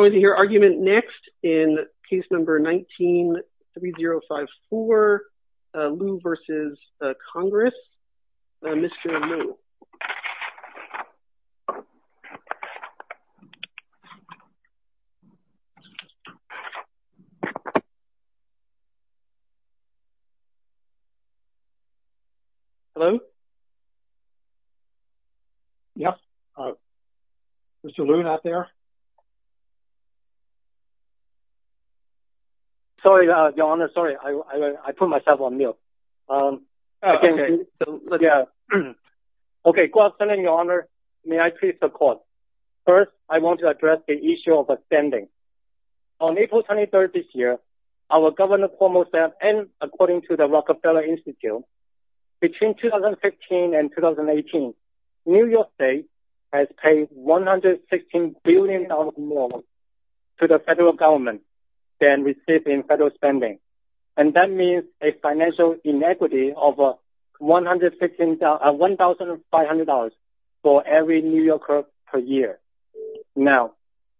I'm going to hear argument next in case number 19-3054, Lou v. Congress. Mr. Lou. Hello? Yes. Mr. Lou not there. Sorry, Your Honor. Sorry. I put myself on mute. Okay. Go ahead, Your Honor. May I please support. First, I want to address the issue of a spending. On April 23rd this year, our Governor Cuomo said, and according to the Rockefeller Institute, between 2015 and 2018, New York State has paid $116 billion more to the federal government than received in federal spending. And that means a financial inequity of $1,500 for every New Yorker per year. Now,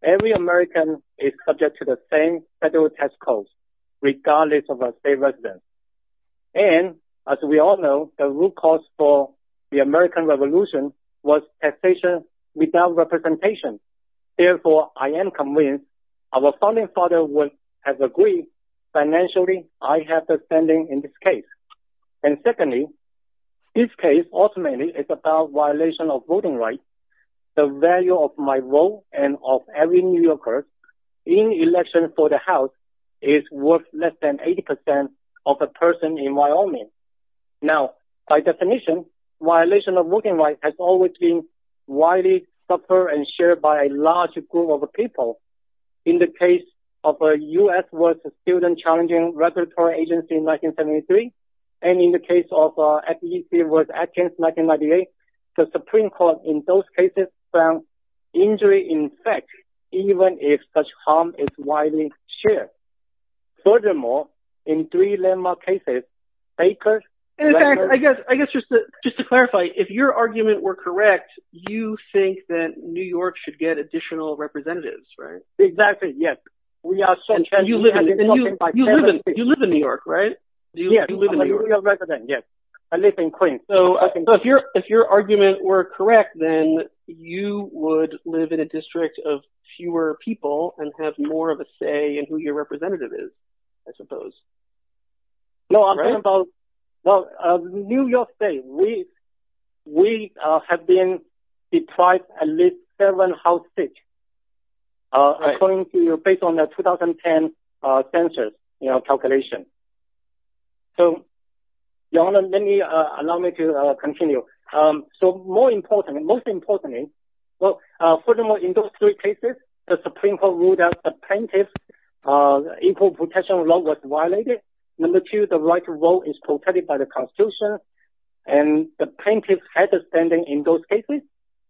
every American is subject to the same federal tax code, regardless of our state residence. And as we all know, the root cause for the American Revolution was taxation without representation. Therefore, I am convinced our founding father has agreed financially I have the spending in this case. And secondly, this case ultimately is about violation of voting rights. The value of my vote and of every New Yorker in election for the House is worth less than 80% of a person in Wyoming. Now, by definition, violation of voting rights has always been widely supported and shared by a large group of people. In the case of the U.S. was a student-challenging regulatory agency in 1973. And in the case of FEC was Adkins in 1998. The Supreme Court in those cases found injury in effect, even if such harm is widely shared. Furthermore, in three landmark cases, Baker... I guess just to clarify, if your argument were correct, you think that New York should get additional representatives, right? Exactly. Yes. You live in New York, right? Yes. I live in Queens. So if your argument were correct, then you would live in a district of fewer people and have more of a say in who your representative is, I suppose. No, I'm talking about... Well, New York State, we have been deprived at least seven House seats according to... based on the 2010 census calculation. So, Your Honor, let me... allow me to continue. So more important, most importantly, well, furthermore, in those three cases, the Supreme Court ruled that the plaintiff's equal protection law was violated. Number two, the right to vote is protected by the Constitution. And the plaintiff had a standing in those cases.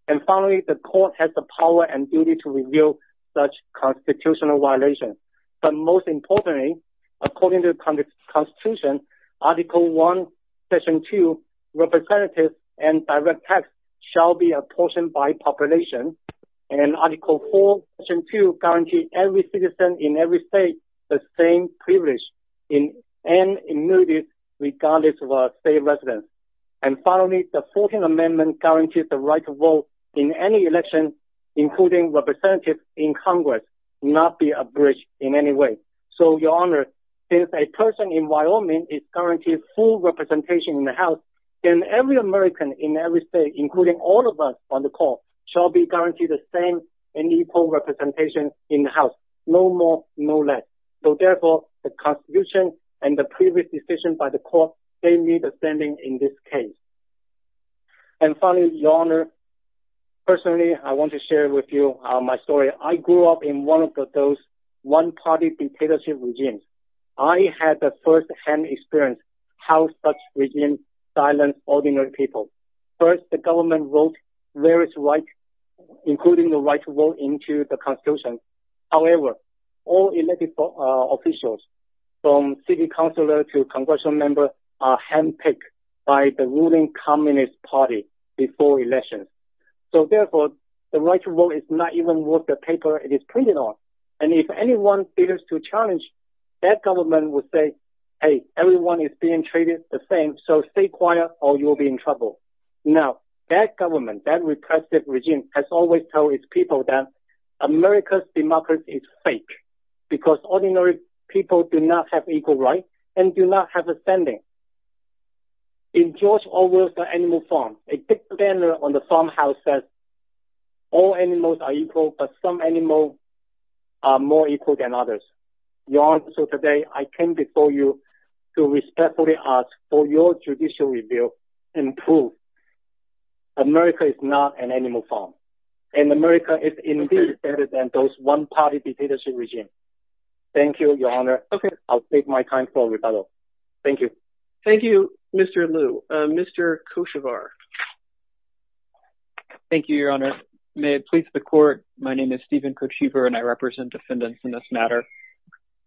And finally, the court has the power and duty to reveal such constitutional violations. But most importantly, according to the Constitution, Article I, Section 2, representatives and direct shall be apportioned by population. And Article 4, Section 2 guarantee every citizen in every state the same privilege and immunity regardless of state residence. And finally, the 14th Amendment guarantees the right to vote in any election, including representatives in Congress, not be abridged in any way. So, Your Honor, since a person in Wyoming is guaranteed full including all of us on the court, shall be guaranteed the same and equal representation in the House, no more, no less. So, therefore, the Constitution and the previous decision by the court gave me the standing in this case. And finally, Your Honor, personally, I want to share with you my story. I grew up in one of those one-party dictatorship regimes. I had the first hand experience how such regime silenced ordinary people. First, the government wrote various rights, including the right to vote, into the Constitution. However, all elected officials, from city councilor to congressional member, are handpicked by the ruling Communist Party before election. So, therefore, the right to vote is not even worth the paper it is printed on. And if anyone dares to challenge, that government would say, hey, everyone is being treated the same, so stay quiet or you'll be in trouble. Now, that government, that repressive regime, has always told its people that America's democracy is fake, because ordinary people do not have equal rights and do not have a standing. In George Orwell's The Animal Farm, a big banner on the farmhouse says, all animals are equal, but some animals are more equal than others. Your Honor, so today, I came before you to respectfully ask for your judicial review and prove America is not an animal farm. And America is indeed better than those one-party dictatorship regimes. Thank you, Your Honor. I'll take my time for rebuttal. Thank you. Thank you, Mr. Liu. Mr. Kochivar. Thank you, Your Honor. May it please the court, my name is Stephen Kochivar, and I represent defendants in this matter.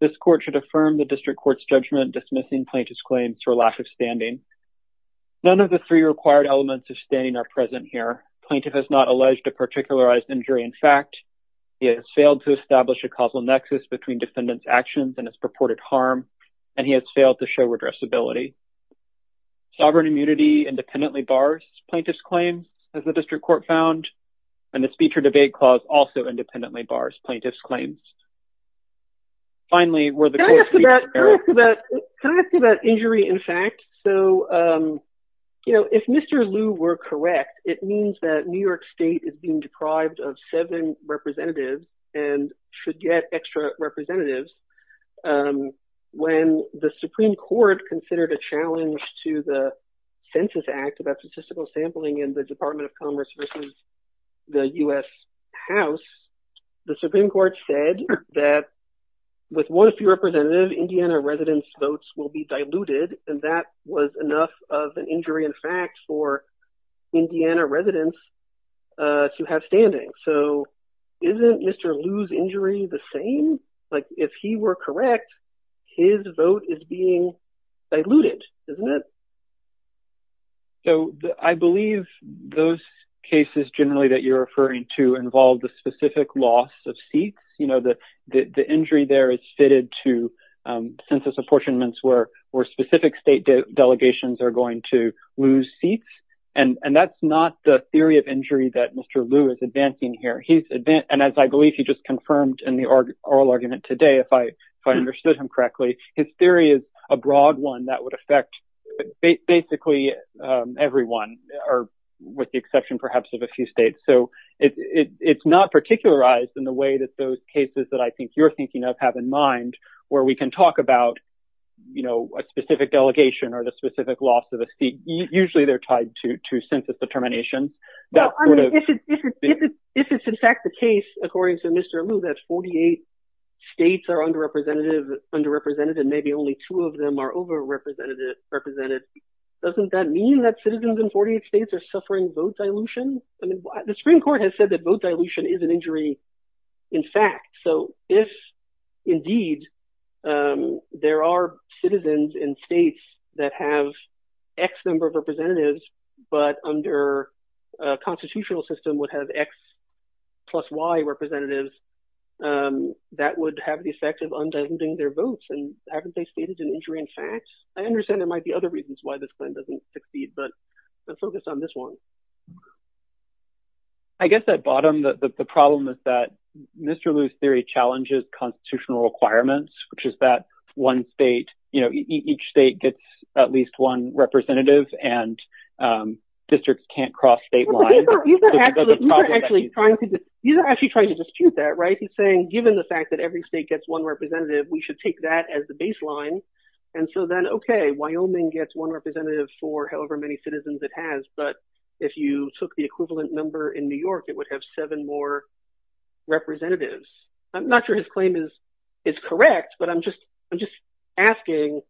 This court should affirm the district court's judgment dismissing plaintiff's claims for lack of standing. None of the three required elements of standing are present here. Plaintiff has not alleged a particularized injury in fact. He has failed to establish a causal nexus between defendant's actions and his purported harm, and he has failed to show redressability. Sovereign immunity independently bars plaintiff's claims, as the district court found, and the speech or debate clause also independently bars plaintiff's claims. Finally, were the- Can I ask about injury in fact? So, if Mr. Liu were correct, it means that New York State is being deprived of seven representatives and should get extra representatives. When the Supreme Court considered a challenge to the Census Act about statistical sampling in the Department of Commerce versus the U.S. House, the Supreme Court said that with one few representative, Indiana residents' votes will be diluted, and that was enough of an injury in fact for Indiana residents to have standing. So, isn't Mr. Liu's injury the same? Like, if he were correct, his vote is being diluted, isn't it? So, I believe those cases generally that you're referring to involve the specific loss of seats. You know, the injury there is fitted to census apportionments where specific state delegations are going to lose seats, and that's not the theory of injury that Mr. Liu is advancing here. He's advanced, and as I believe you just confirmed in the oral argument today, if I understood him correctly, his theory is a broad one that would affect basically everyone, or with the exception perhaps of a few states. So, it's not particularized in the way that those cases that I think you're thinking of have in mind where we can talk about, you know, a specific delegation or the specific loss of a seat. Mr. Liu, that 48 states are underrepresented, and maybe only two of them are overrepresented. Doesn't that mean that citizens in 48 states are suffering vote dilution? I mean, the Supreme Court has said that vote dilution is an injury in fact. So, if indeed there are citizens in states that have X number of representatives, but under a constitutional system would have X plus Y representatives, that would have the effect of undulating their votes, and haven't they stated an injury in fact? I understand there might be other reasons why this plan doesn't succeed, but let's focus on this one. I guess at bottom, the problem is that Mr. Liu's theory challenges constitutional requirements, which is that one state, you know, each state gets at least one representative, and districts can't cross state lines. You're actually trying to dispute that, right? He's saying given the fact that every state gets one representative, we should take that as the baseline, and so then, okay, Wyoming gets one representative for however many citizens it has, but if you took the equivalent number in New York, it would have seven more representatives. I'm not sure his claim is correct, but I'm just asking,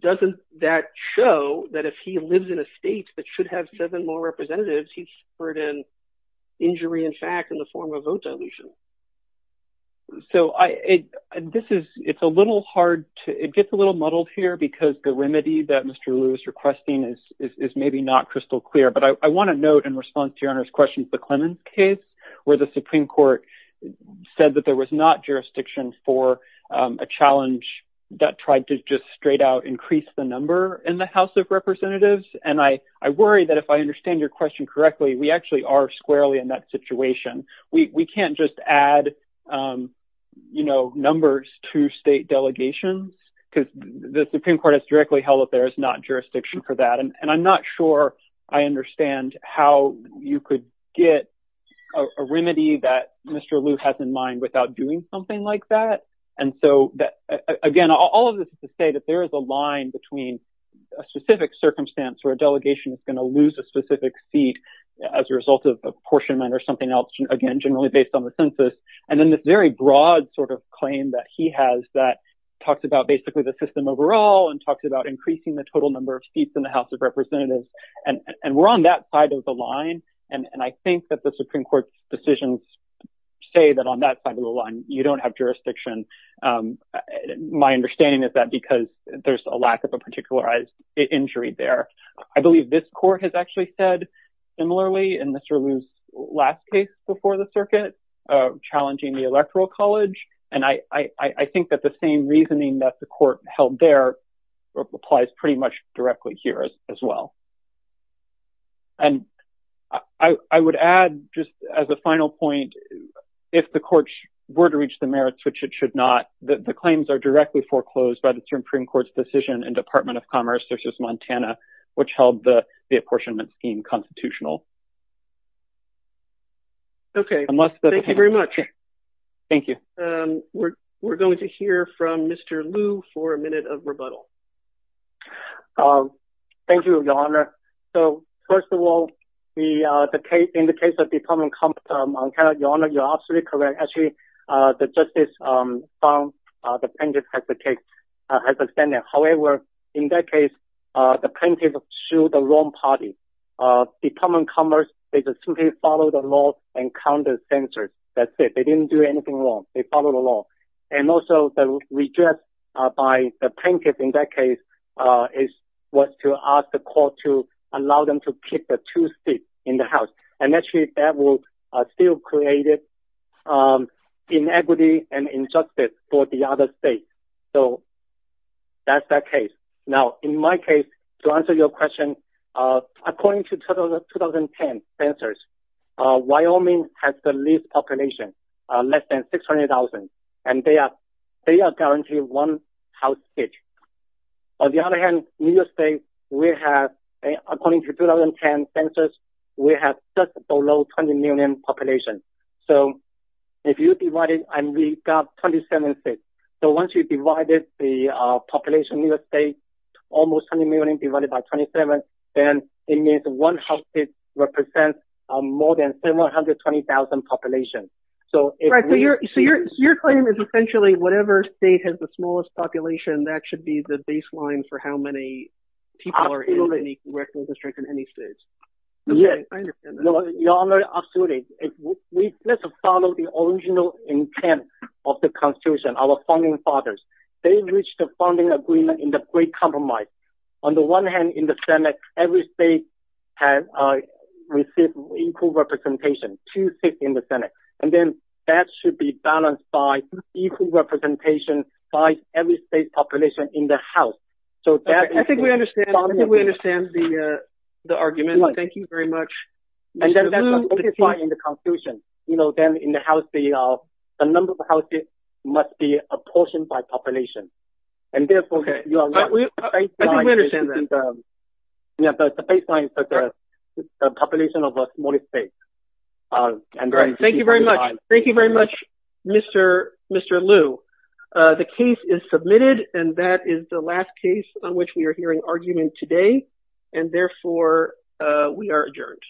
doesn't that show that if he lives in a state that should have seven more representatives, he's hurt in injury, in fact, in the form of vote dilution? So I, this is, it's a little hard to, it gets a little muddled here, because the remedy that Mr. Liu is requesting is maybe not crystal clear, but I want to note in response to your Honor's question, the Clemens case, where the Supreme Court said that there was not jurisdiction for a challenge that tried to just straight out increase the number in the House of Representatives, and I worry that if I understand your question correctly, we actually are squarely in that situation. We can't just add, you know, numbers to state delegations, because the Supreme Court has directly held that there is not jurisdiction for that, and I'm not sure I understand how you could get a remedy that Mr. Liu has in mind without doing something like that, and so again, all of this is to say that there is a line between a specific circumstance where a delegation is going to lose a specific seat as a result of apportionment or something else, again, generally based on the census, and then this very broad sort of claim that he has that talks about basically the system overall and talks about increasing the total number of seats in the House of Representatives, and we're on that side of the line, and I think that the Supreme of the line, you don't have jurisdiction. My understanding is that because there's a lack of a particularized injury there. I believe this court has actually said similarly in Mr. Liu's last case before the circuit, challenging the Electoral College, and I think that the same reasoning that the court held there applies pretty much directly here as well, and I would add just as a final point, if the courts were to reach the merits, which it should not, the claims are directly foreclosed by the Supreme Court's decision in Department of Commerce v. Montana, which held the apportionment scheme constitutional. Okay, thank you very much. Thank you. We're going to hear from Mr. Liu for a minute of rebuttal. Thank you, Your Honor. So, first of all, in the case of Department of Commerce v. Montana, Your Honor, you're absolutely correct. Actually, the justice found the plaintiff has a stand-in. However, in that case, the plaintiff sued the wrong party. Department of Commerce, they just simply followed the law and counted the censors. That's it. They didn't do anything wrong. They followed the law. And also, the redress by the plaintiff in that case is what to ask the court to allow them to pick the two seats in the House. And actually, that will still create inequity and injustice for the other states. So, that's that case. Now, in my case, to answer your question, according to 2010 censors, Wyoming has the least population, less than 600,000, and they are guaranteed one house seat. On the other hand, New York State, we have, according to 2010 censors, we have just below 20 million population. So, if you divided and we got 27 states, so once you divided the population in New York State, almost 20 million divided by 27, then it means one house seat represents more than 720,000 population. So, your claim is essentially whatever state has the smallest population, that should be the baseline for how many people are in any district in any state. Yes, I understand that. Your Honor, absolutely. We have to follow the original intent of the Constitution, our founding fathers. They reached a founding agreement in the Great Compromise. On the one hand, in the Senate, every state has received equal representation, two seats in the Senate. And then that should be balanced by equal representation by every state population in the House. I think we understand the argument. Thank you very much. In the Constitution, you know, then in the House, the number of houses must be apportioned by population. Okay, I think we understand that. Yeah, but the baseline is the population of a state. Thank you very much. Thank you very much, Mr. Liu. The case is submitted and that is the last case on which we are hearing argument today, and therefore, we are adjourned.